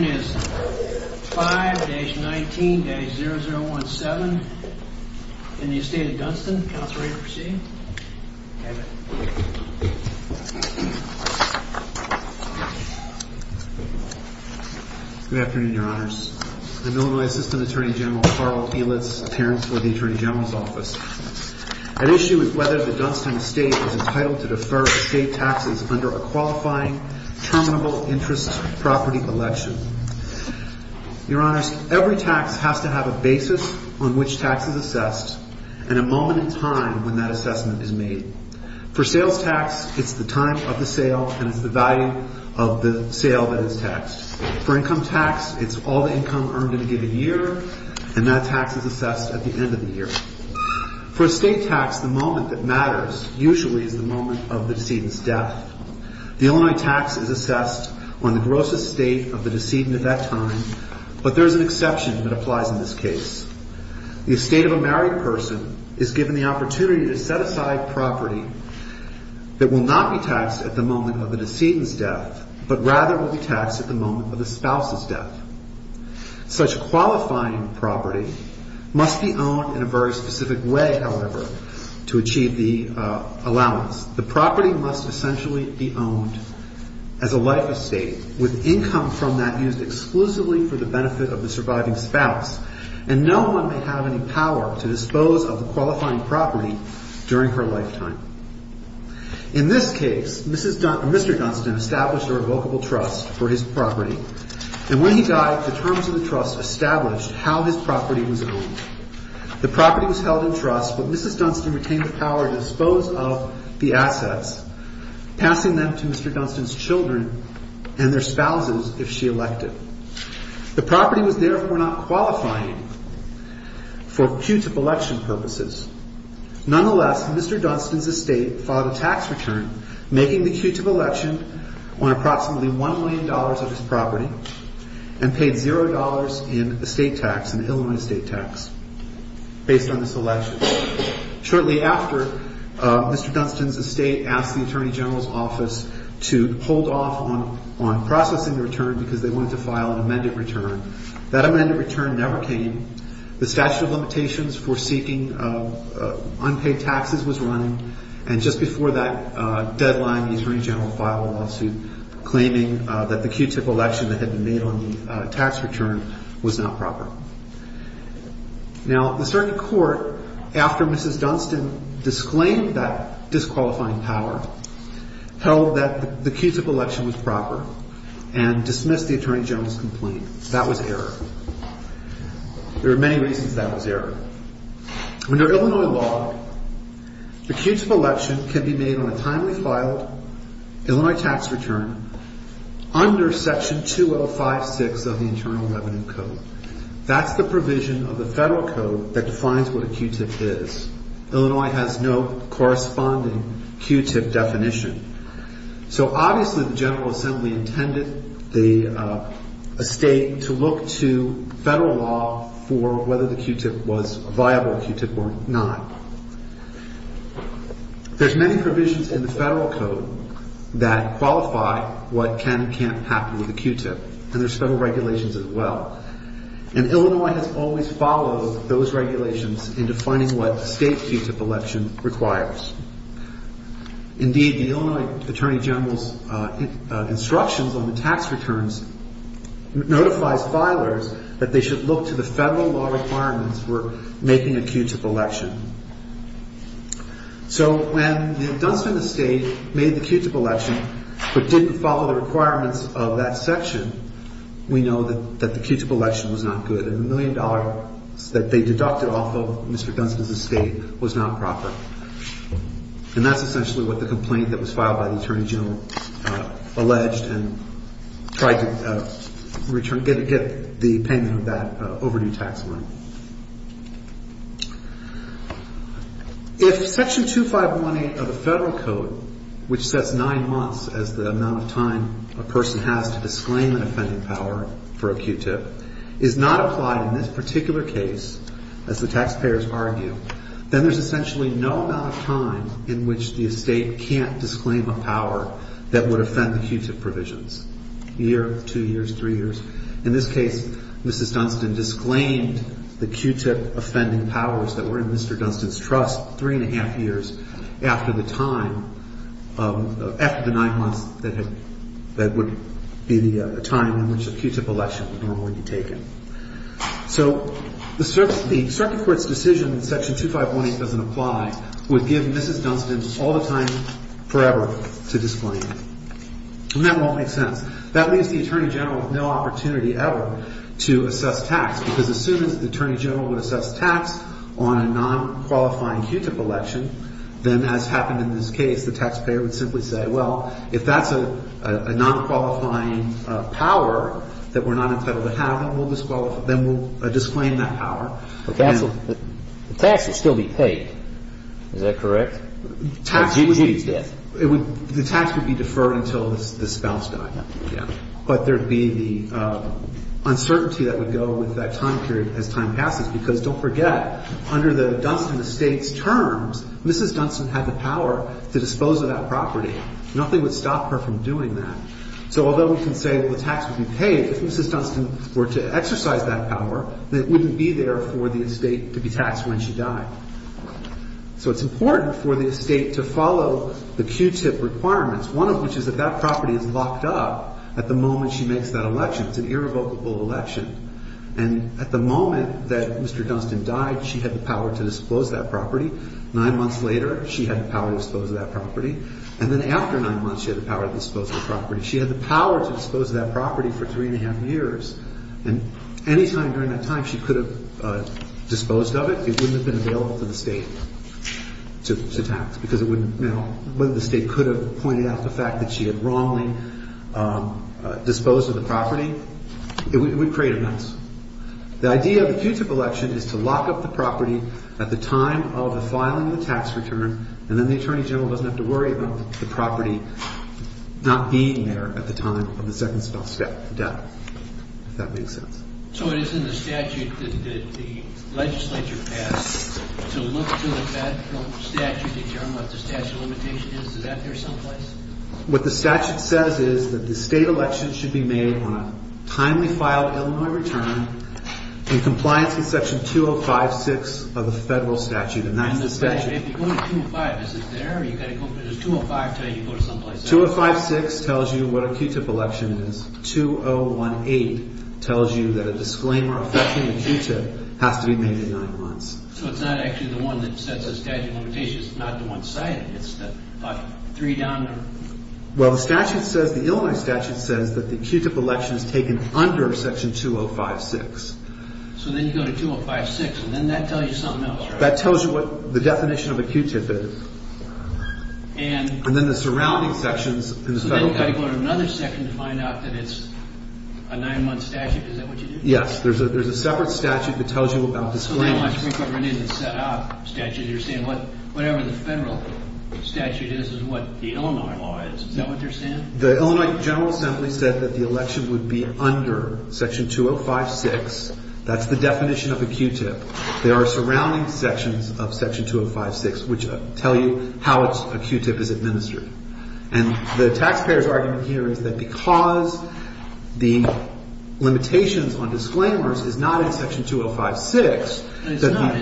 is 5-19-0017 in the Estate of Dunston. Counselor, are you ready to proceed? Good afternoon, Your Honors. I'm Illinois Assistant Attorney General Carl Elitz, Appearance for the Attorney General's Office. At issue is whether the Dunston Estate is entitled to defer estate taxes under a qualifying, terminable interest property election. Your Honors, every tax has to have a basis on which tax is assessed, and a moment in time when that assessment is made. For sales tax, it's the time of the sale, and it's the value of the sale that is taxed. For income tax, it's all the income earned in a given year, and that tax is assessed at the end of the year. For estate tax, the moment that matters usually is the moment of the decedent's death. The Illinois tax is assessed on the gross estate of the decedent at that time, but there's an exception that applies in this case. The estate of a married person is given the opportunity to set aside property that will not be taxed at the moment of the decedent's death, Such qualifying property must be owned in a very specific way, however, to achieve the allowance. The property must essentially be owned as a life estate, with income from that used exclusively for the benefit of the surviving spouse, and no one may have any power to dispose of the qualifying property during her lifetime. In this case, Mr. Dunston established a revocable trust for his property, and when he died, the terms of the trust established how his property was owned. The property was held in trust, but Mrs. Dunston retained the power to dispose of the assets, passing them to Mr. Dunston's children and their spouses if she elected. The property was therefore not qualifying for putative election purposes. Nonetheless, Mr. Dunston's estate filed a tax return, making the putative election on approximately $1 million of his property, and paid $0 in estate tax, an Illinois estate tax, based on this election. Shortly after, Mr. Dunston's estate asked the Attorney General's office to hold off on processing the return because they wanted to file an amended return. That amended return never came. The statute of limitations for seeking unpaid taxes was running, and just before that deadline, the Attorney General filed a lawsuit claiming that the putative election that had been made on the tax return was not proper. Now, the circuit court, after Mrs. Dunston disclaimed that disqualifying power, held that the putative election was proper and dismissed the Attorney General's complaint. That was error. There were many reasons that was error. Under Illinois law, the putative election can be made on a timely filed Illinois tax return under Section 2056 of the Internal Revenue Code. That's the provision of the federal code that defines what a qutip is. Illinois has no corresponding qutip definition. So obviously, the General Assembly intended a state to look to federal law for whether the qutip was a viable qutip or not. There's many provisions in the federal code that qualify what can and can't happen with a qutip, and there's federal regulations as well. And Illinois has always followed those regulations in defining what state qutip election requires. Indeed, the Illinois Attorney General's instructions on the tax returns notifies filers that they should look to the federal law requirements for making a qutip election. So when Dunston Estate made the qutip election but didn't follow the requirements of that section, we know that the qutip election was not good, and the million dollars that they deducted off of Mr. Dunston's estate was not proper. And that's essentially what the complaint that was filed by the Attorney General alleged and tried to get the payment of that overdue tax money. If Section 2518 of the federal code, which sets nine months as the amount of time a person has to disclaim an offending power for a qutip, is not applied in this particular case, as the taxpayers argue, then there's essentially no amount of time in which the estate can't disclaim a power that would offend the qutip provisions. A year, two years, three years. In this case, Mrs. Dunston disclaimed the qutip offending powers that were in Mr. Dunston's trust three and a half years after the time, after the nine months that would be the time in which a qutip election would normally be taken. So the circuit court's decision that Section 2518 doesn't apply would give Mrs. Dunston all the time forever to disclaim. And that won't make sense. That leaves the Attorney General with no opportunity ever to assess tax because as soon as the Attorney General would assess tax on a non-qualifying qutip election, then as happened in this case, the taxpayer would simply say, well, if that's a non-qualifying power that we're not entitled to have, then we'll disclaim that power. The tax would still be paid. Is that correct? Or did you use that? The tax would be deferred until the spouse died. Yeah. But there would be the uncertainty that would go with that time period as time passes because don't forget, under the Dunston estate's terms, Mrs. Dunston had the power to dispose of that property. Nothing would stop her from doing that. So although we can say the tax would be paid, if Mrs. Dunston were to exercise that power, then it wouldn't be there for the estate to be taxed when she died. So it's important for the estate to follow the qutip requirements, one of which is that that property is locked up at the moment she makes that election. It's an irrevocable election. And at the moment that Mr. Dunston died, she had the power to dispose of that property. Nine months later, she had the power to dispose of that property. And then after nine months, she had the power to dispose of the property. She had the power to dispose of that property for three and a half years. And any time during that time she could have disposed of it, it wouldn't have been available to the state to tax because it wouldn't know whether the state could have pointed out the fact that she had wrongly disposed of the property. It would create a mess. The idea of the qutip election is to lock up the property at the time of the filing of the tax return, and then the attorney general doesn't have to worry about the property not being there at the time of the second spell death, if that makes sense. So it is in the statute that the legislature has to look to the statute to determine what the statute of limitation is. Is that there someplace? What the statute says is that the state election should be made on a timely filed Illinois return in compliance with Section 205.6 of the federal statute. And that's the statute. If you go to 205, is it there? Or you've got to go to 205 until you go to someplace else? 205.6 tells you what a qutip election is. 2018 tells you that a disclaimer affecting the qutip has to be made in nine months. So it's not actually the one that sets the statute of limitation. It's not the one cited. It's the three down number. Well, the statute says, the Illinois statute says, that the qutip election is taken under Section 205.6. So then you go to 205.6, and then that tells you something else, right? That tells you what the definition of a qutip is. And then the surrounding sections in the federal statute. So then you've got to go to another section to find out that it's a nine-month statute. Is that what you do? Yes. There's a separate statute that tells you about disclaimers. So then you have to go in and set up statutes. You're saying whatever the federal statute is is what the Illinois law is. Is that what they're saying? The Illinois General Assembly said that the election would be under Section 205.6. That's the definition of a qutip. There are surrounding sections of Section 205.6 which tell you how a qutip is administered. And the taxpayer's argument here is that because the limitations on disclaimers is not in Section 205.6. It's not.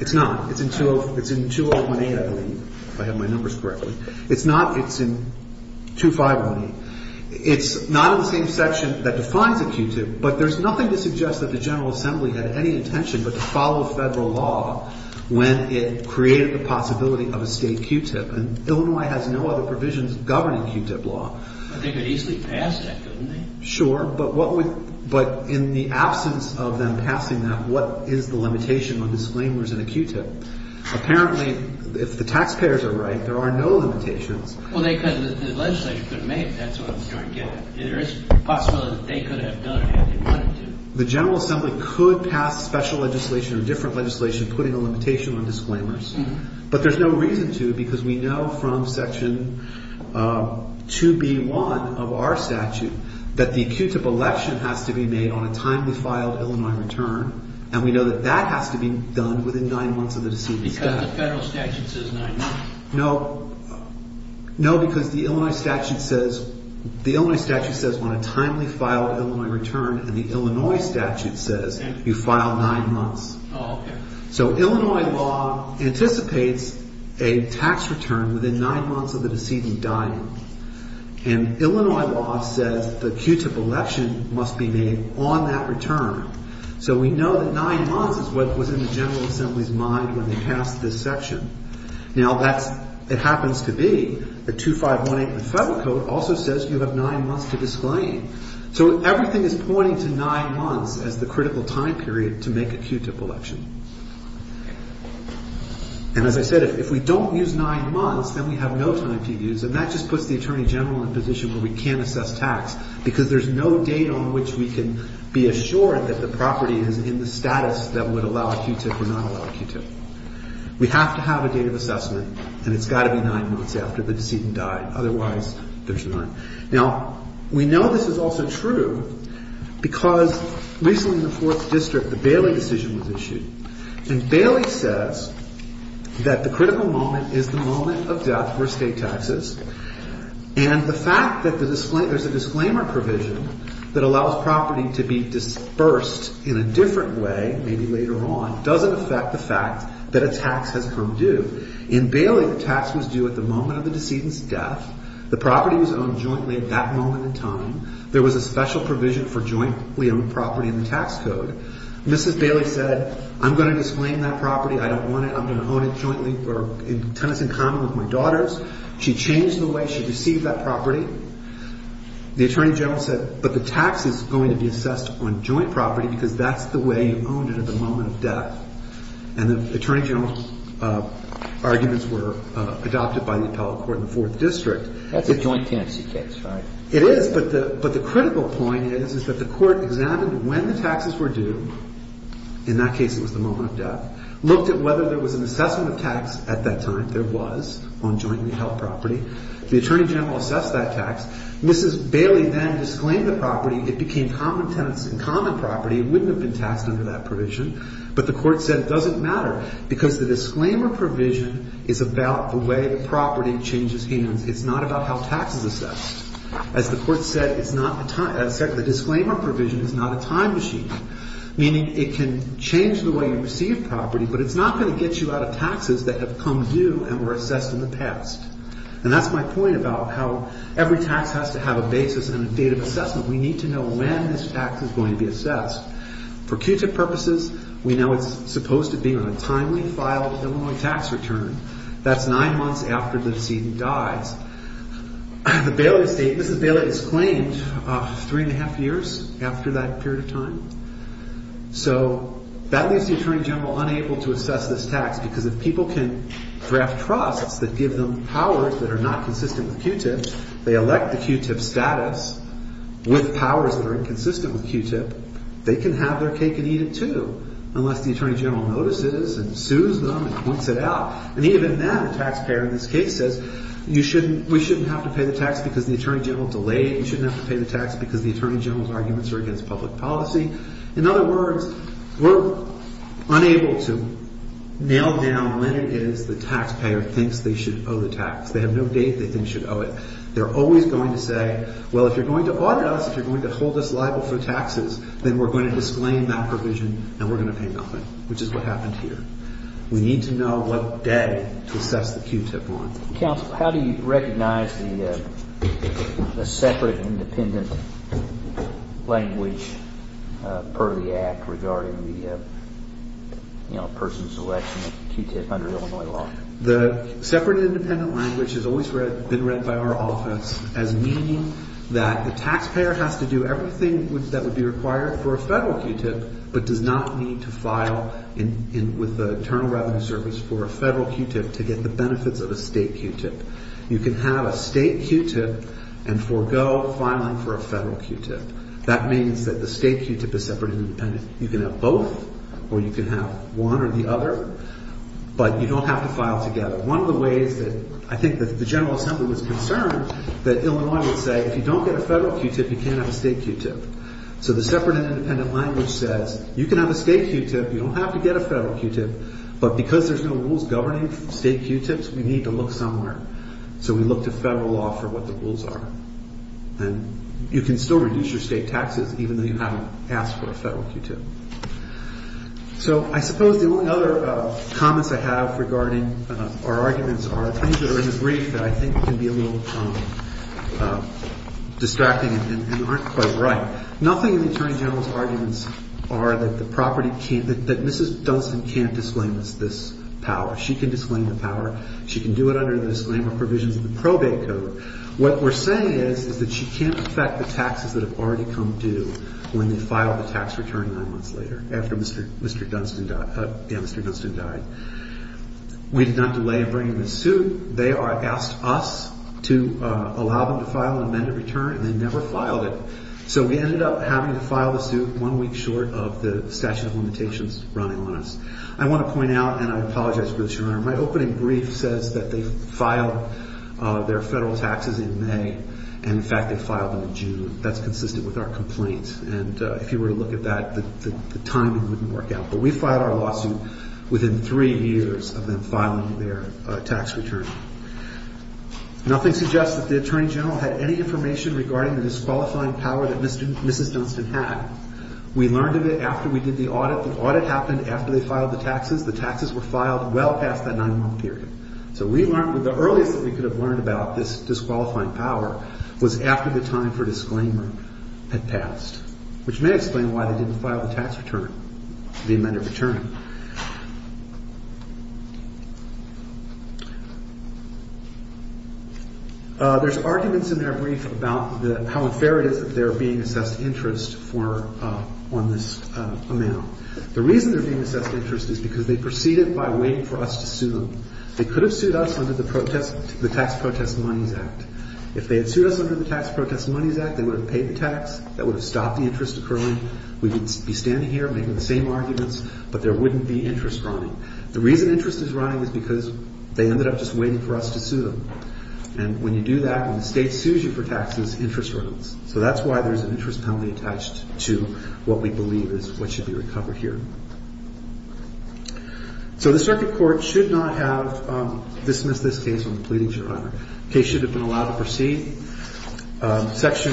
It's not. It's in 201A, I believe, if I have my numbers correctly. It's not. It's in 251A. It's not in the same section that defines a qutip, but there's nothing to suggest that the General Assembly had any intention but to follow federal law when it created the possibility of a state qutip. And Illinois has no other provisions governing qutip law. But they could easily pass that, couldn't they? Sure. But in the absence of them passing that, what is the limitation on disclaimers in a qutip? Apparently, if the taxpayers are right, there are no limitations. Well, the legislature could have made it. That's what I'm trying to get at. There is a possibility that they could have done it if they wanted to. The General Assembly could pass special legislation or different legislation putting a limitation on disclaimers, but there's no reason to because we know from Section 2B1 of our statute that the qutip election has to be made on a timely filed Illinois return, and we know that that has to be done within nine months of the decision. Because the federal statute says nine months. No. No, because the Illinois statute says, the Illinois statute says on a timely filed Illinois return, and the Illinois statute says you file nine months. Oh, okay. So Illinois law anticipates a tax return within nine months of the decision dying, and Illinois law says the qutip election must be made on that return. So we know that nine months is what was in the General Assembly's mind when they passed this section. Now, that's, it happens to be that 2518 of the federal code also says you have nine months to disclaim. So everything is pointing to nine months as the critical time period to make a qutip election. And as I said, if we don't use nine months, then we have no time to use, and that just puts the Attorney General in a position where we can't assess tax because there's no date on which we can be assured that the property is in the status that would allow a qutip or not allow a qutip. We have to have a date of assessment, and it's got to be nine months after the decision died. Otherwise, there's none. Now, we know this is also true because recently in the Fourth District, the Bailey decision was issued. And Bailey says that the critical moment is the moment of death for estate taxes, and the fact that there's a disclaimer provision that allows property to be dispersed in a different way, maybe later on, doesn't affect the fact that a tax has come due. In Bailey, the tax was due at the moment of the decedent's death. The property was owned jointly at that moment in time. There was a special provision for jointly owned property in the tax code. Mrs. Bailey said, I'm going to disclaim that property. I don't want it. I'm going to own it jointly or in tenants in common with my daughters. She changed the way she received that property. The Attorney General said, but the tax is going to be assessed on joint property because that's the way you owned it at the moment of death. And the Attorney General's arguments were adopted by the appellate court in the Fourth District. That's a joint tenancy case, right? It is, but the critical point is that the court examined when the taxes were due. In that case, it was the moment of death. Looked at whether there was an assessment of tax at that time. There was on jointly held property. The Attorney General assessed that tax. Mrs. Bailey then disclaimed the property. It became common tenants in common property. It wouldn't have been taxed under that provision. But the court said it doesn't matter because the disclaimer provision is about the way the property changes hands. It's not about how tax is assessed. As the court said, it's not the time. The disclaimer provision is not a time machine, meaning it can change the way you receive property, but it's not going to get you out of taxes that have come due and were assessed in the past. And that's my point about how every tax has to have a basis and a date of assessment. We need to know when this tax is going to be assessed. For Q-Tip purposes, we know it's supposed to be on a timely filed Illinois tax return. That's nine months after the decedent dies. Mrs. Bailey disclaimed three and a half years after that period of time. So that leaves the Attorney General unable to assess this tax because if people can draft trusts that give them powers that are not consistent with Q-Tip, they elect the Q-Tip with powers that are inconsistent with Q-Tip, they can have their cake and eat it too, unless the Attorney General notices and sues them and points it out. And even then, the taxpayer in this case says, we shouldn't have to pay the tax because the Attorney General delayed. You shouldn't have to pay the tax because the Attorney General's arguments are against public policy. In other words, we're unable to nail down when it is the taxpayer thinks they should owe the tax. They have no date they think should owe it. They're always going to say, well, if you're going to audit us, if you're going to hold us liable for taxes, then we're going to disclaim that provision and we're going to pay nothing, which is what happened here. We need to know what day to assess the Q-Tip on. Counsel, how do you recognize the separate independent language per the Act regarding the person's selection of Q-Tip under Illinois law? The separate independent language has always been read by our office as meaning that the taxpayer has to do everything that would be required for a federal Q-Tip, but does not need to file with the Internal Revenue Service for a federal Q-Tip to get the benefits of a state Q-Tip. You can have a state Q-Tip and forego filing for a federal Q-Tip. That means that the state Q-Tip is separate and independent. You can have both or you can have one or the other, but you don't have to file together. One of the ways that I think the General Assembly was concerned that Illinois would say, if you don't get a federal Q-Tip, you can't have a state Q-Tip. So the separate and independent language says, you can have a state Q-Tip, you don't have to get a federal Q-Tip, but because there's no rules governing state Q-Tips, we need to look somewhere. So we looked at federal law for what the rules are. And you can still reduce your state taxes even though you haven't asked for a federal Q-Tip. So I suppose the only other comments I have regarding our arguments are things that are in the brief that I think can be a little distracting and aren't quite right. Nothing in the Attorney General's arguments are that the property can't, that Mrs. Dunstan can't disclaim this power. She can disclaim the power. She can do it under the disclaimer provisions of the probate code. What we're saying is, is that she can't affect the taxes that have already come due when they filed the tax return nine months later, after Mr. Dunstan died. We did not delay in bringing the suit. They asked us to allow them to file an amended return, and they never filed it. So we ended up having to file the suit one week short of the statute of limitations running on us. I want to point out, and I apologize for this, Your Honor, my opening brief says that they filed their taxes in May, and, in fact, they filed them in June. That's consistent with our complaints. And if you were to look at that, the timing wouldn't work out. But we filed our lawsuit within three years of them filing their tax return. Nothing suggests that the Attorney General had any information regarding the disqualifying power that Mrs. Dunstan had. We learned of it after we did the audit. The audit happened after they filed the taxes. The taxes were filed well past that nine-month period. So we learned that the earliest that we could have learned about this disqualifying power was after the time for disclaimer had passed, which may explain why they didn't file the tax return, the amended return. There's arguments in our brief about how unfair it is that they're being assessed interest on this amount. The reason they're being assessed interest is because they proceeded by waiting for us to sue them. They could have sued us under the Tax Protest Monies Act. If they had sued us under the Tax Protest Monies Act, they would have paid the tax. That would have stopped the interest occurring. We would be standing here making the same arguments, but there wouldn't be interest running. The reason interest is running is because they ended up just waiting for us to sue them. And when you do that, when the state sues you for taxes, interest runs. So that's why there's an interest penalty attached to what we believe is what should be recovered here. So the circuit court should not have dismissed this case when pleading to your Honor. The case should have been allowed to proceed. Section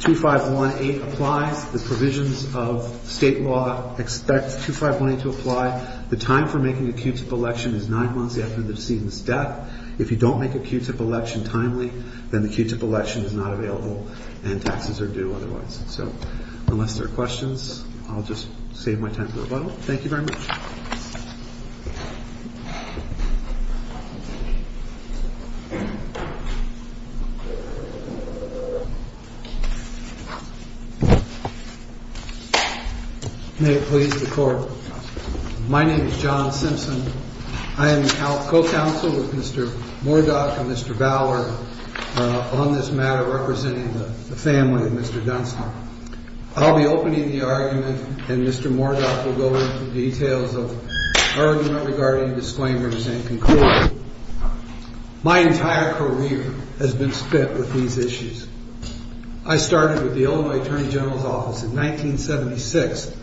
2518 applies. The provisions of state law expect 2518 to apply. The time for making a Q-tip election is nine months after the decedent's death. If you don't make a Q-tip election timely, then the Q-tip election is not available and taxes are due otherwise. So unless there are questions, I'll just save my time for a while. Thank you very much. May it please the Court. My name is John Simpson. I am co-counsel with Mr. Mordach and Mr. Ballard on this matter representing the family of Mr. Dunstan. I'll be opening the argument, and Mr. Mordach will go into details of the argument regarding disclaimers and conclusions. My entire career has been spent with these issues. I started with the Illinois Attorney General's Office in 1976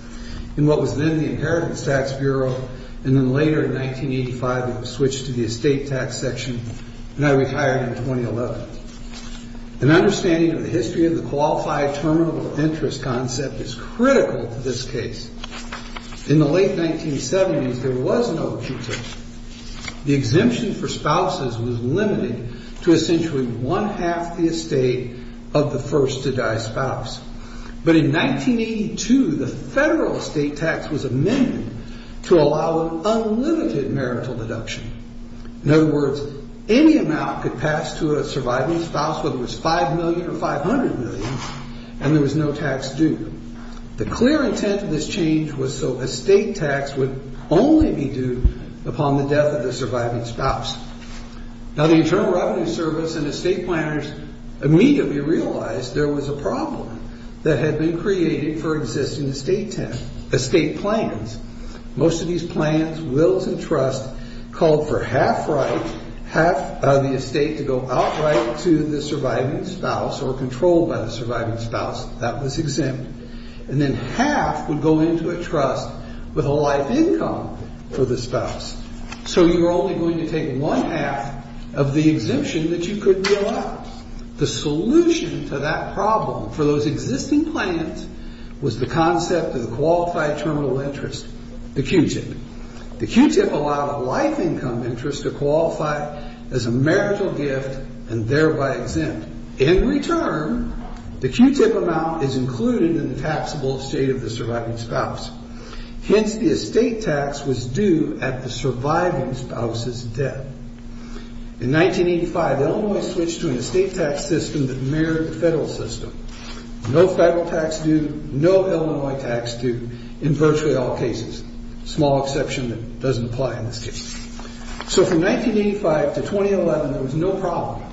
in what was then the Inheritance Tax Bureau, and then later, in 1985, it was switched to the Estate Tax Section, and I retired in 2011. An understanding of the history of the Qualified Terminal Interest concept is critical to this case. In the late 1970s, there was no Q-tip. The exemption for spouses was limited to essentially one-half the estate of the first-to-die spouse. But in 1982, the federal estate tax was amended to allow an unlimited marital deduction. In other words, any amount could pass to a surviving spouse, whether it was $5 million or $500 million, and there was no tax due. The clear intent of this change was so estate tax would only be due upon the death of the surviving spouse. Now, the Internal Revenue Service and estate planners immediately realized there was a problem that had been created for existing estate plans. Most of these plans, wills, and trusts called for half-right, half of the estate to go outright to the surviving spouse or controlled by the surviving spouse. That was exempt. And then half would go into a trust with a life income for the spouse. So you're only going to take one-half of the exemption that you could will out. The solution to that problem for those existing plans was the concept of the Qualified Terminal Interest, the Q-tip. The Q-tip allowed a life income interest to qualify as a marital gift and thereby exempt. In return, the Q-tip amount is included in the taxable estate of the surviving spouse. Hence, the estate tax was due at the surviving spouse's death. In 1985, Illinois switched to an estate tax system that mirrored the federal system. No federal tax due, no Illinois tax due in virtually all cases, a small exception that doesn't apply in this case. So from 1985 to 2011, there was no problem.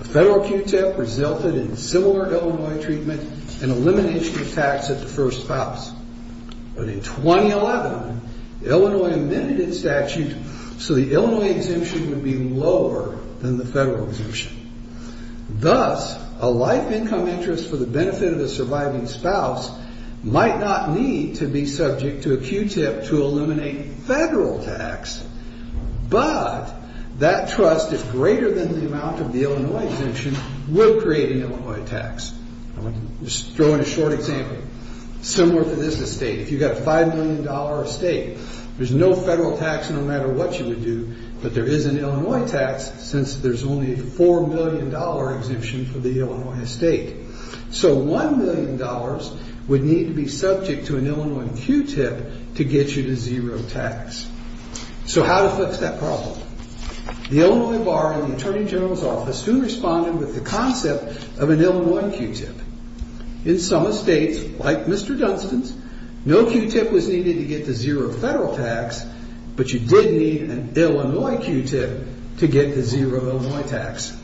A federal Q-tip resulted in similar Illinois treatment and elimination of tax at the first spouse. But in 2011, Illinois amended its statute so the Illinois exemption would be lower than the federal exemption. Thus, a life income interest for the benefit of a surviving spouse might not need to be subject to a Q-tip to eliminate federal tax. But that trust is greater than the amount of the Illinois exemption will create an Illinois tax. I want to throw in a short example similar to this estate. If you've got a $5 million estate, there's no federal tax no matter what you would do, but there is an Illinois tax since there's only a $4 million exemption for the Illinois estate. So $1 million would need to be subject to an Illinois Q-tip to get you to zero tax. So how to fix that problem? The Illinois Bar and the Attorney General's Office soon responded with the concept of an Illinois Q-tip. In some estates, like Mr. Dunstan's, no Q-tip was needed to get to zero federal tax, but you did need an Illinois Q-tip to get to zero Illinois tax.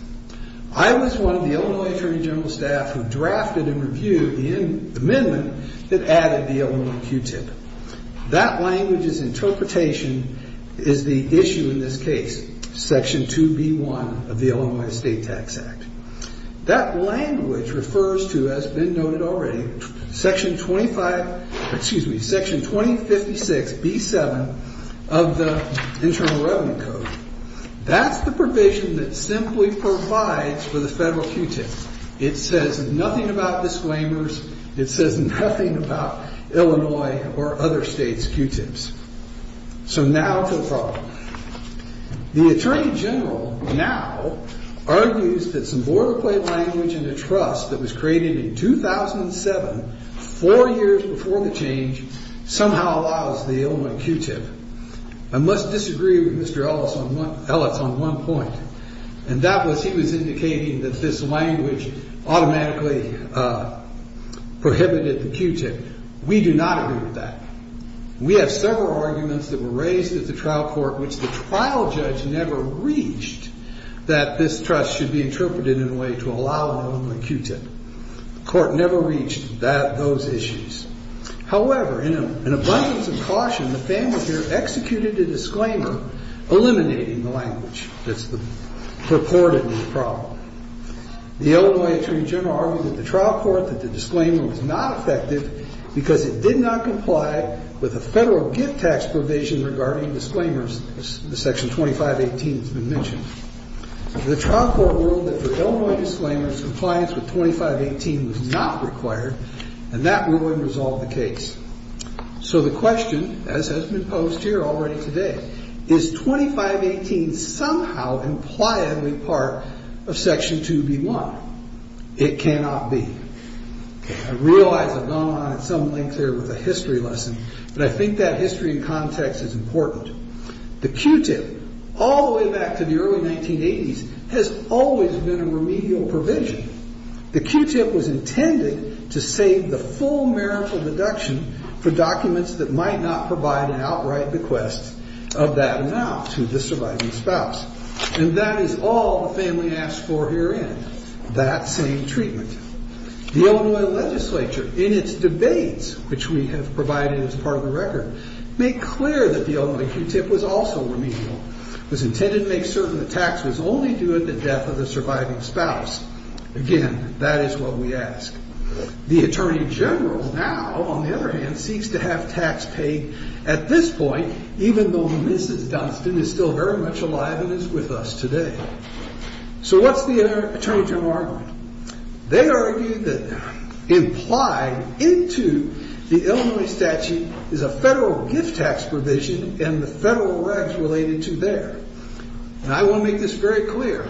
I was one of the Illinois Attorney General's staff who drafted and reviewed the amendment that added the Illinois Q-tip. That language's interpretation is the issue in this case, Section 2B-1 of the Illinois Estate Tax Act. That language refers to, as has been noted already, Section 2056-B-7 of the Internal Revenue Code. That's the provision that simply provides for the federal Q-tip. It says nothing about disclaimers. It says nothing about Illinois or other states' Q-tips. So now to the problem. The Attorney General now argues that some boilerplate language in the trust that was created in 2007, four years before the change, somehow allows the Illinois Q-tip. I must disagree with Mr. Ellis on one point, and that was he was indicating that this language automatically prohibited the Q-tip. We do not agree with that. We have several arguments that were raised at the trial court which the trial judge never reached that this trust should be interpreted in a way to allow an Illinois Q-tip. The court never reached those issues. However, in an abundance of caution, the family here executed a disclaimer eliminating the language that's purported in the problem. The Illinois Attorney General argued at the trial court that the disclaimer was not effective because it did not comply with the federal gift tax provision regarding disclaimers, as Section 2518 has been mentioned. The trial court ruled that for Illinois disclaimers, compliance with 2518 was not required, and that ruling resolved the case. So the question, as has been posed here already today, is 2518 somehow impliedly part of Section 2B1? It cannot be. I realize I've gone on at some length here with a history lesson, but I think that history and context is important. The Q-tip, all the way back to the early 1980s, has always been a remedial provision. The Q-tip was intended to save the full marital deduction for documents that might not provide an outright bequest of that amount to the surviving spouse. And that is all the family asked for herein, that same treatment. The Illinois legislature, in its debates, which we have provided as part of the record, made clear that the Illinois Q-tip was also remedial. It was intended to make certain the tax was only due at the death of the surviving spouse. Again, that is what we ask. The Attorney General now, on the other hand, seeks to have tax paid at this point, even though Mrs. Dunstan is still very much alive and is with us today. So what's the Attorney General's argument? They argue that implied into the Illinois statute is a federal gift tax provision and the federal regs related to there. And I want to make this very clear.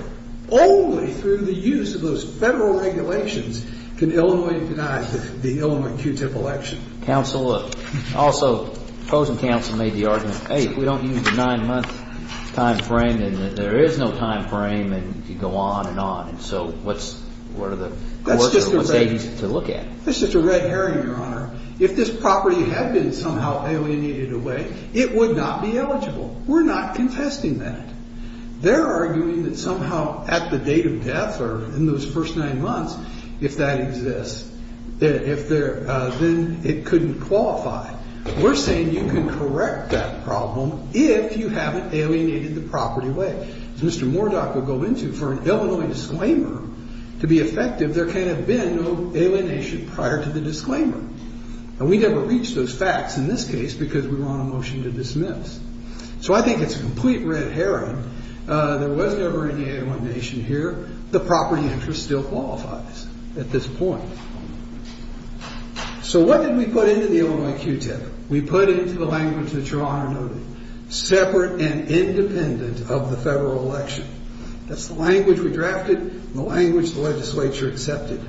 Only through the use of those federal regulations can Illinois deny the Illinois Q-tip election. Counsel, also the opposing counsel made the argument, hey, if we don't use the nine-month time frame, then there is no time frame to go on and on. And so what's the work or what's the agency to look at? That's just a red herring, Your Honor. If this property had been somehow alienated away, it would not be eligible. We're not confessing that. They're arguing that somehow at the date of death or in those first nine months, if that exists, then it couldn't qualify. We're saying you can correct that problem if you haven't alienated the property away. As Mr. Mordock would go into, for an Illinois disclaimer to be effective, there can't have been no alienation prior to the disclaimer. And we never reached those facts in this case because we were on a motion to dismiss. So I think it's a complete red herring. There was never any alienation here. The property interest still qualifies at this point. So what did we put into the Illinois Q-tip? We put it into the language that Your Honor noted, separate and independent of the federal election. That's the language we drafted and the language the legislature accepted.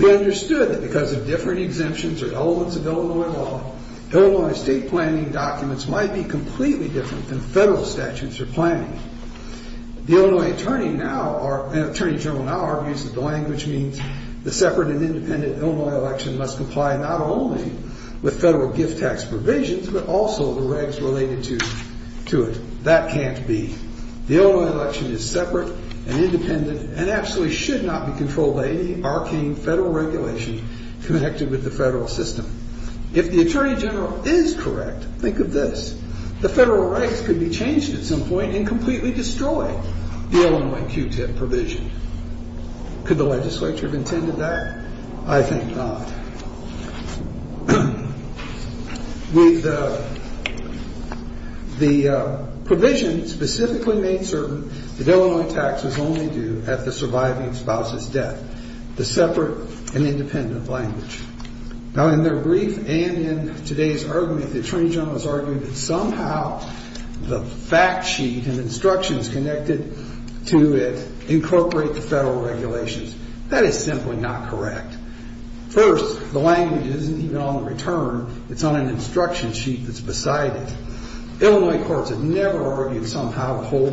We understood that because of different exemptions or elements of Illinois law, Illinois state planning documents might be completely different than federal statutes or planning. The Illinois Attorney General now argues that the language means the separate and independent Illinois election must comply not only with federal gift tax provisions, but also the regs related to it. That can't be. The Illinois election is separate and independent and absolutely should not be controlled by any arcane federal regulation connected with the federal system. If the Attorney General is correct, think of this, the federal rights could be changed at some point and completely destroy the Illinois Q-tip provision. Could the legislature have intended that? I think not. With the provision specifically made certain that Illinois tax was only due at the surviving spouse's death, the separate and independent language. Now in their brief and in today's argument, the Attorney General has argued that somehow the fact sheet and instructions connected to it incorporate the federal regulations. That is simply not correct. First, the language isn't even on the return. It's on an instruction sheet that's beside it. Illinois courts have never argued somehow the whole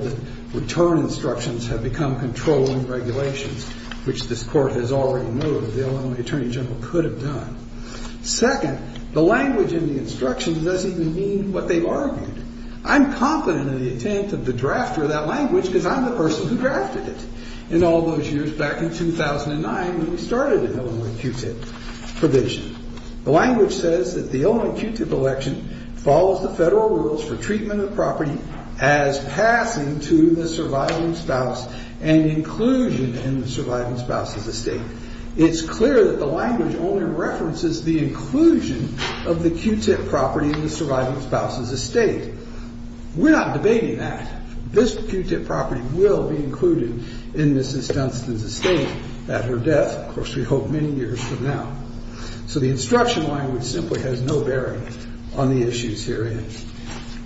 return instructions have become controlling regulations, which this court has already moved. The Illinois Attorney General could have done. Second, the language in the instructions doesn't even mean what they argued. I'm confident in the intent of the drafter of that language because I'm the person who drafted it. In all those years back in 2009 when we started the Illinois Q-tip provision, the language says that the Illinois Q-tip election follows the federal rules for treatment of property as passing to the surviving spouse and inclusion in the surviving spouse's estate. It's clear that the language only references the inclusion of the Q-tip property in the surviving spouse's estate. We're not debating that. This Q-tip property will be included in Mrs. Dunstan's estate at her death, of course we hope many years from now. So the instruction language simply has no bearing on the issues herein.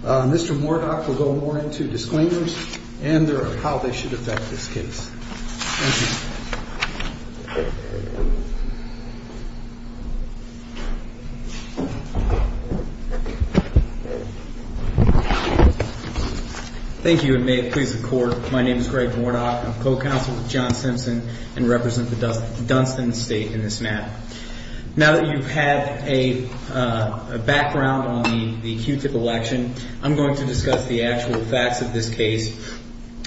Mr. Mordoff will go more into disclaimers and how they should affect this case. Thank you. Thank you and may it please the court. My name is Greg Mordoff. I'm co-counsel with John Simpson and represent the Dunstan estate in this matter. Now that you've had a background on the Q-tip election, I'm going to discuss the actual facts of this case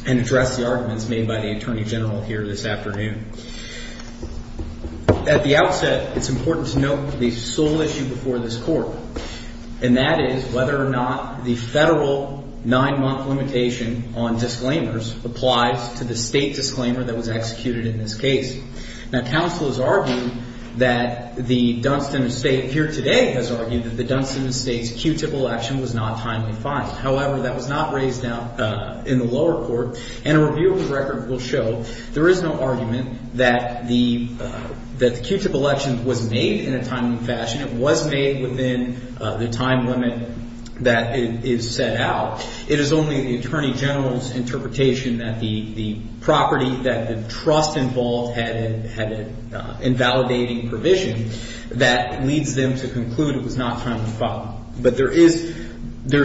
and address the arguments made by the attorney general here this afternoon. At the outset, it's important to note the sole issue before this court, and that is whether or not the federal nine-month limitation on disclaimers applies to the state disclaimer that was executed in this case. Now counsel has argued that the Dunstan estate here today has argued that the Dunstan estate's Q-tip election was not timely filed. However, that was not raised in the lower court, and a review of the record will show there is no argument that the Q-tip election was made in a timely fashion. It was made within the time limit that is set out. It is only the attorney general's interpretation that the property that the trust involved had an invalidating provision that leads them to conclude it was not timely filed. But there is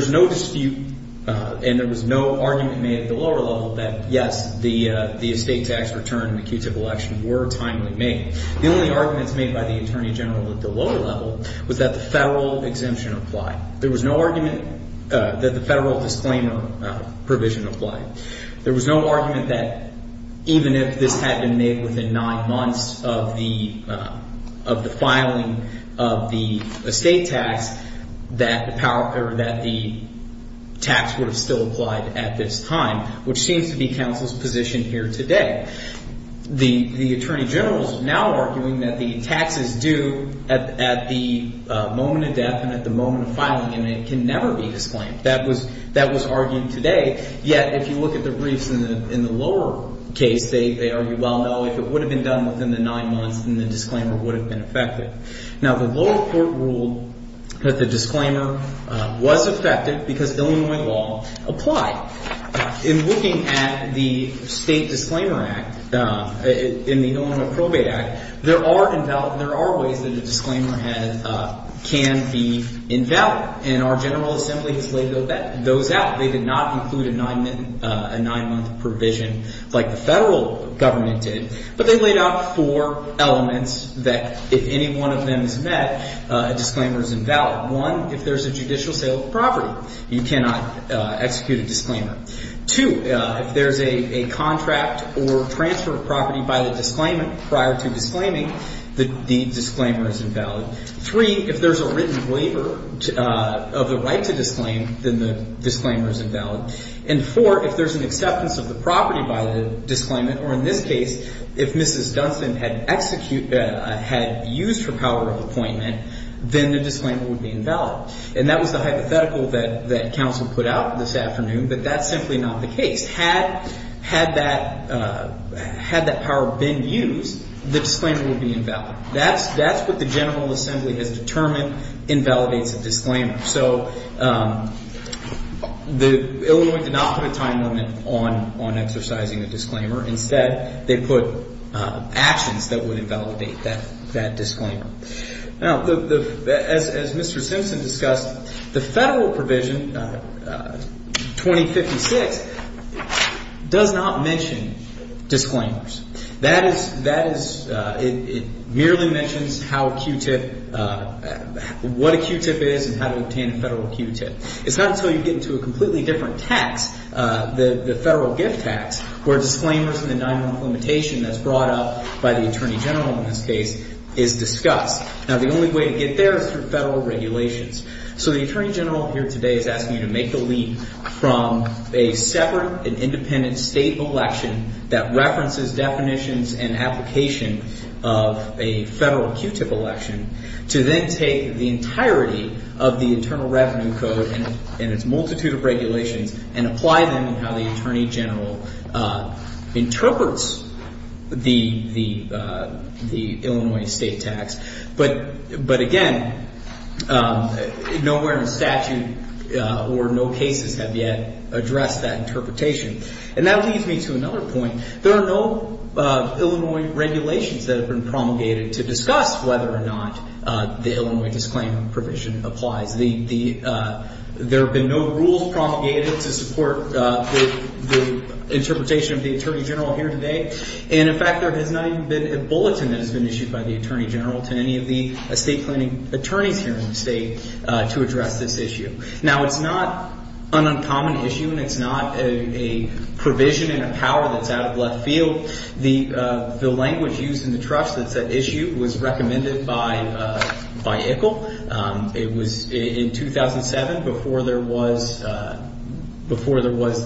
no dispute and there was no argument made at the lower level that, yes, the estate tax return and the Q-tip election were timely made. The only arguments made by the attorney general at the lower level was that the federal exemption applied. There was no argument that the federal disclaimer provision applied. There was no argument that even if this had been made within nine months of the filing of the estate tax, that the tax would have still applied at this time, which seems to be counsel's position here today. The attorney general is now arguing that the tax is due at the moment of death and at the moment of filing and it can never be disclaimed. That was argued today. Yet, if you look at the briefs in the lower case, they argue, well, no, if it would have been done within the nine months, then the disclaimer would have been effective. Now, the lower court ruled that the disclaimer was effective because Illinois law applied. In looking at the State Disclaimer Act, in the Illinois Probate Act, there are ways that a disclaimer can be invalid. And our General Assembly has laid those out. They did not include a nine-month provision like the federal government did, but they laid out four elements that if any one of them is met, a disclaimer is invalid. One, if there's a judicial sale of property, you cannot execute a disclaimer. Two, if there's a contract or transfer of property by the disclaimant prior to disclaiming, the disclaimer is invalid. Three, if there's a written waiver of the right to disclaim, then the disclaimer is invalid. And four, if there's an acceptance of the property by the disclaimant, or in this case, if Mrs. Dunstan had used her power of appointment, then the disclaimer would be invalid. And that was the hypothetical that counsel put out this afternoon, but that's simply not the case. Had that power been used, the disclaimer would be invalid. That's what the General Assembly has determined invalidates a disclaimer. So Illinois did not put a time limit on exercising a disclaimer. Instead, they put actions that would invalidate that disclaimer. Now, as Mr. Simpson discussed, the federal provision, 2056, does not mention disclaimers. That is – it merely mentions how a Q-tip – what a Q-tip is and how to obtain a federal Q-tip. It's not until you get into a completely different tax, the federal gift tax, where disclaimers and the non-implementation that's brought up by the Attorney General in this case is discussed. Now, the only way to get there is through federal regulations. So the Attorney General here today is asking you to make the leap from a separate and independent state election that references definitions and application of a federal Q-tip election to then take the entirety of the Internal Revenue Code and its multitude of regulations and apply them in how the Attorney General interprets the Illinois state tax. But again, nowhere in statute or no cases have yet addressed that interpretation. And that leads me to another point. There are no Illinois regulations that have been promulgated to discuss whether or not the Illinois disclaimer provision applies. There have been no rules promulgated to support the interpretation of the Attorney General here today. And, in fact, there has not even been a bulletin that has been issued by the Attorney General to any of the estate planning attorneys here in the state to address this issue. Now, it's not an uncommon issue and it's not a provision in a power that's out of left field. The language used in the trust that said issue was recommended by ICIL. It was in 2007 before there was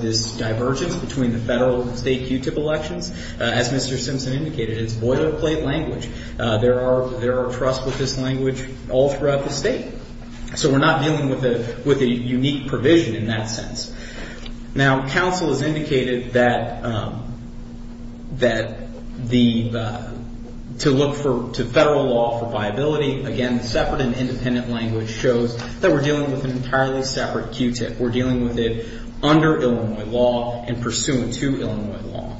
this divergence between the federal and state Q-tip elections. As Mr. Simpson indicated, it's boilerplate language. There are trusts with this language all throughout the state. So we're not dealing with a unique provision in that sense. Now, counsel has indicated that to look to federal law for viability. Again, separate and independent language shows that we're dealing with an entirely separate Q-tip. We're dealing with it under Illinois law and pursuant to Illinois law.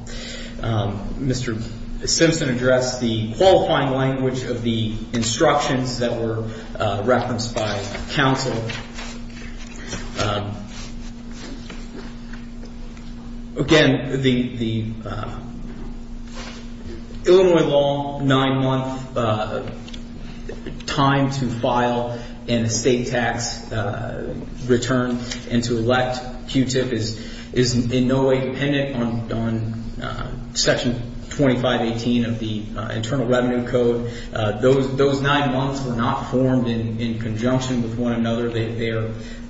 Mr. Simpson addressed the qualifying language of the instructions that were referenced by counsel. So, again, the Illinois law nine-month time to file an estate tax return and to elect Q-tip is in no way dependent on Section 2518 of the Internal Revenue Code. Those nine months were not formed in conjunction with one another. They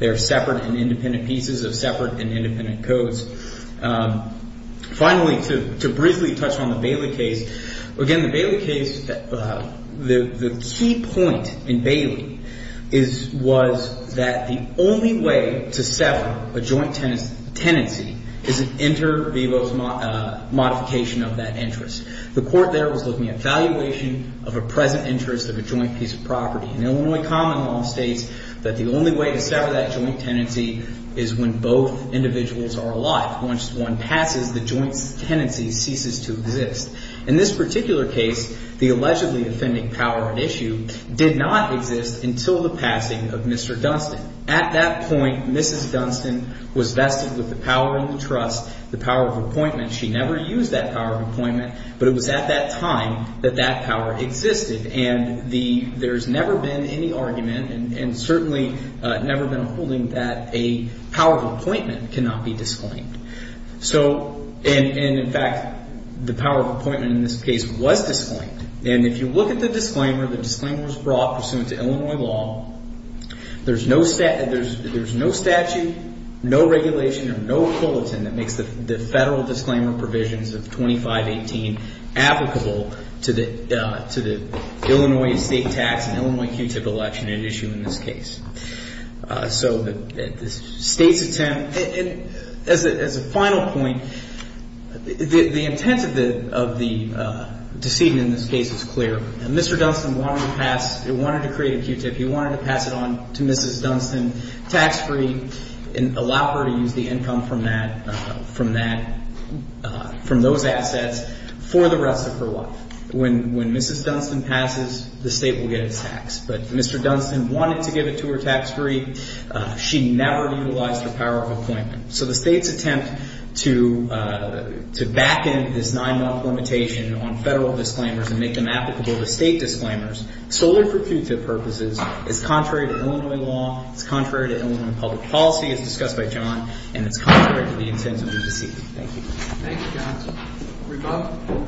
are separate and independent pieces of separate and independent codes. Finally, to briefly touch on the Bailey case. Again, the Bailey case, the key point in Bailey was that the only way to sever a joint tenancy is an inter vivos modification of that interest. The court there was looking at valuation of a present interest of a joint piece of property. And Illinois common law states that the only way to sever that joint tenancy is when both individuals are alive. Once one passes, the joint tenancy ceases to exist. In this particular case, the allegedly offending power at issue did not exist until the passing of Mr. Dunstan. At that point, Mrs. Dunstan was vested with the power of the trust, the power of appointment. But it was at that time that that power existed. And there's never been any argument and certainly never been a holding that a power of appointment cannot be disclaimed. And in fact, the power of appointment in this case was disclaimed. And if you look at the disclaimer, the disclaimer was brought pursuant to Illinois law. There's no statute, no regulation or no bulletin that makes the federal disclaimer provisions of 2518 applicable to the Illinois state tax and Illinois Q-tip election at issue in this case. So the state's attempt, as a final point, the intent of the decision in this case is clear. And Mr. Dunstan wanted to pass, he wanted to create a Q-tip. He wanted to pass it on to Mrs. Dunstan tax-free and allow her to use the income from that, from that, from those assets for the rest of her life. When Mrs. Dunstan passes, the state will get its tax. But Mr. Dunstan wanted to give it to her tax-free. She never utilized her power of appointment. So the state's attempt to back in this nine-month limitation on federal disclaimers and make them applicable to state disclaimers solely for Q-tip purposes is contrary to Illinois law. It's contrary to Illinois public policy as discussed by John. And it's contrary to the intent of the decision. Thank you, counsel.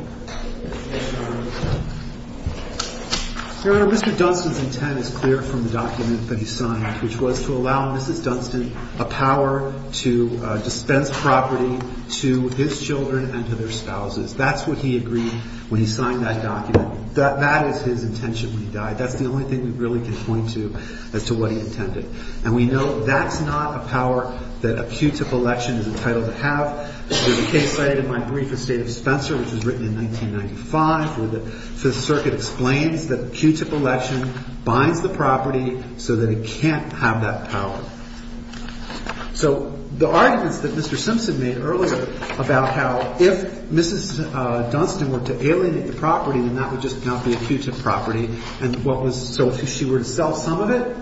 Your Honor, Mr. Dunstan's intent is clear from the document that he signed, which was to allow Mrs. Dunstan a power to dispense property to his children and to their spouses. That's what he agreed when he signed that document. That is his intention when he died. That's the only thing we really can point to as to what he intended. And we know that's not a power that a Q-tip election is entitled to have. There's a case cited in my brief, the State of Spencer, which was written in 1995, where the Fifth Circuit explains that a Q-tip election binds the property so that it can't have that power. So the arguments that Mr. Simpson made earlier about how if Mrs. Dunstan were to alienate the property, then that would just not be a Q-tip property. And so if she were to sell some of it,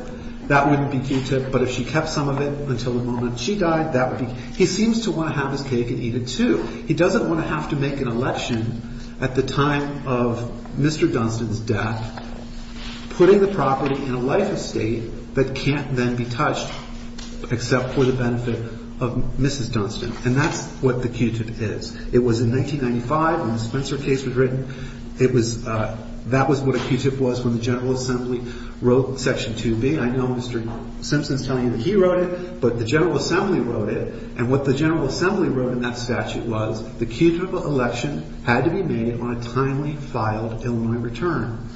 that wouldn't be Q-tip. But if she kept some of it until the moment she died, that would be – he seems to want to have his cake and eat it, too. He doesn't want to have to make an election at the time of Mr. Dunstan's death, putting the property in a life estate that can't then be touched except for the benefit of Mrs. Dunstan. And that's what the Q-tip is. It was in 1995 when the Spencer case was written. It was – that was what a Q-tip was when the General Assembly wrote Section 2B. I know Mr. Simpson's telling you that he wrote it, but the General Assembly wrote it. And what the General Assembly wrote in that statute was the Q-tip election had to be made on a timely filed Illinois return.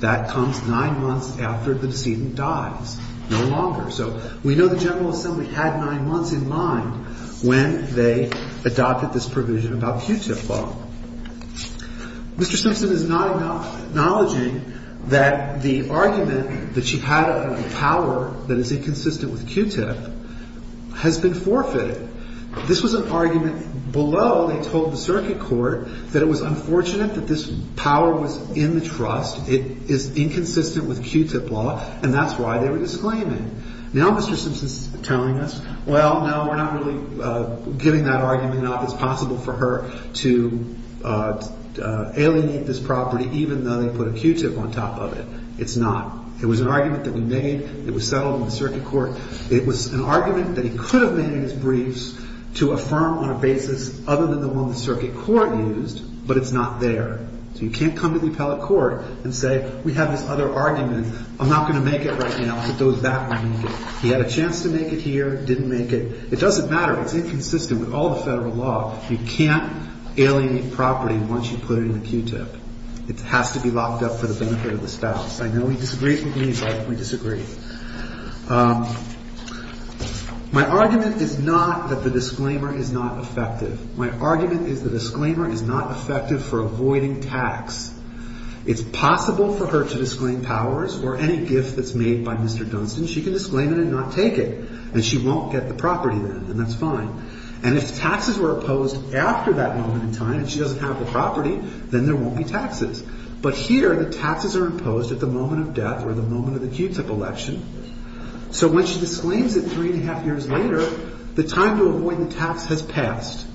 That comes nine months after the decedent dies, no longer. So we know the General Assembly had nine months in mind when they adopted this provision about Q-tip law. Mr. Simpson is not acknowledging that the argument that she had of the power that is inconsistent with Q-tip has been forfeited. This was an argument below they told the circuit court that it was unfortunate that this power was in the trust. It is inconsistent with Q-tip law, and that's why they were disclaiming. Now Mr. Simpson is telling us, well, no, we're not really giving that argument up. It's possible for her to alienate this property even though they put a Q-tip on top of it. It's not. It was an argument that we made. It was settled in the circuit court. It was an argument that he could have made in his briefs to affirm on a basis other than the one the circuit court used, but it's not there. So you can't come to the appellate court and say we have this other argument. I'm not going to make it right now. He had a chance to make it here, didn't make it. It doesn't matter. It's inconsistent with all the federal law. You can't alienate property once you put it in the Q-tip. It has to be locked up for the benefit of the spouse. I know he disagrees with me, but we disagree. My argument is not that the disclaimer is not effective. My argument is the disclaimer is not effective for avoiding tax. It's possible for her to disclaim powers or any gift that's made by Mr. Dunstan. She can disclaim it and not take it, and she won't get the property then, and that's fine. And if taxes were imposed after that moment in time and she doesn't have the property, then there won't be taxes. But here the taxes are imposed at the moment of death or the moment of the Q-tip election. So when she disclaims it three and a half years later, the time to avoid the tax has passed.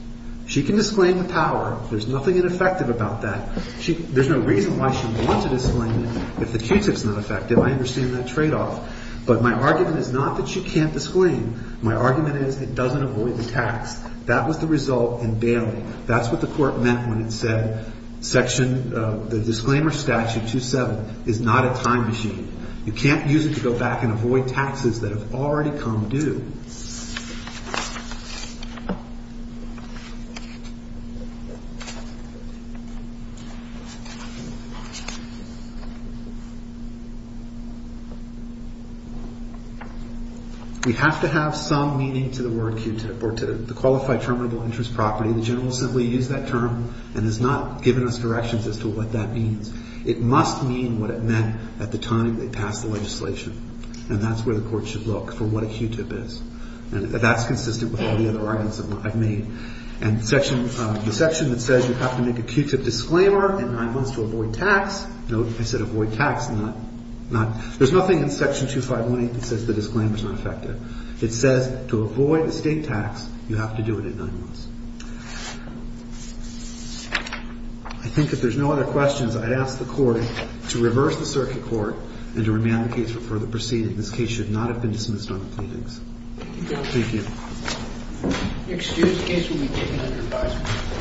She can disclaim the power. There's nothing ineffective about that. There's no reason why she would want to disclaim it if the Q-tip is not effective. I understand that tradeoff. But my argument is not that she can't disclaim. My argument is it doesn't avoid the tax. That was the result in Bailey. That's what the court meant when it said section of the disclaimer statute 2-7 is not a time machine. You can't use it to go back and avoid taxes that have already come due. We have to have some meaning to the word Q-tip or to the Qualified Terminable Interest Property. The general simply used that term and has not given us directions as to what that means. It must mean what it meant at the time they passed the legislation, and that's where the court should look for what a Q-tip is. And that's consistent with all the other arguments I've made. And the section that says you have to make a Q-tip disclaimer in nine months to avoid tax, note I said avoid tax, not – there's nothing in section 2518 that says the disclaimer is not effective. It says to avoid a state tax, you have to do it in nine months. I think if there's no other questions, I ask the court to reverse the circuit court and to remand the case for further proceeding. This case should not have been dismissed on the plaintiffs. Thank you. Thank you. Excuse the case will be taken under advisory.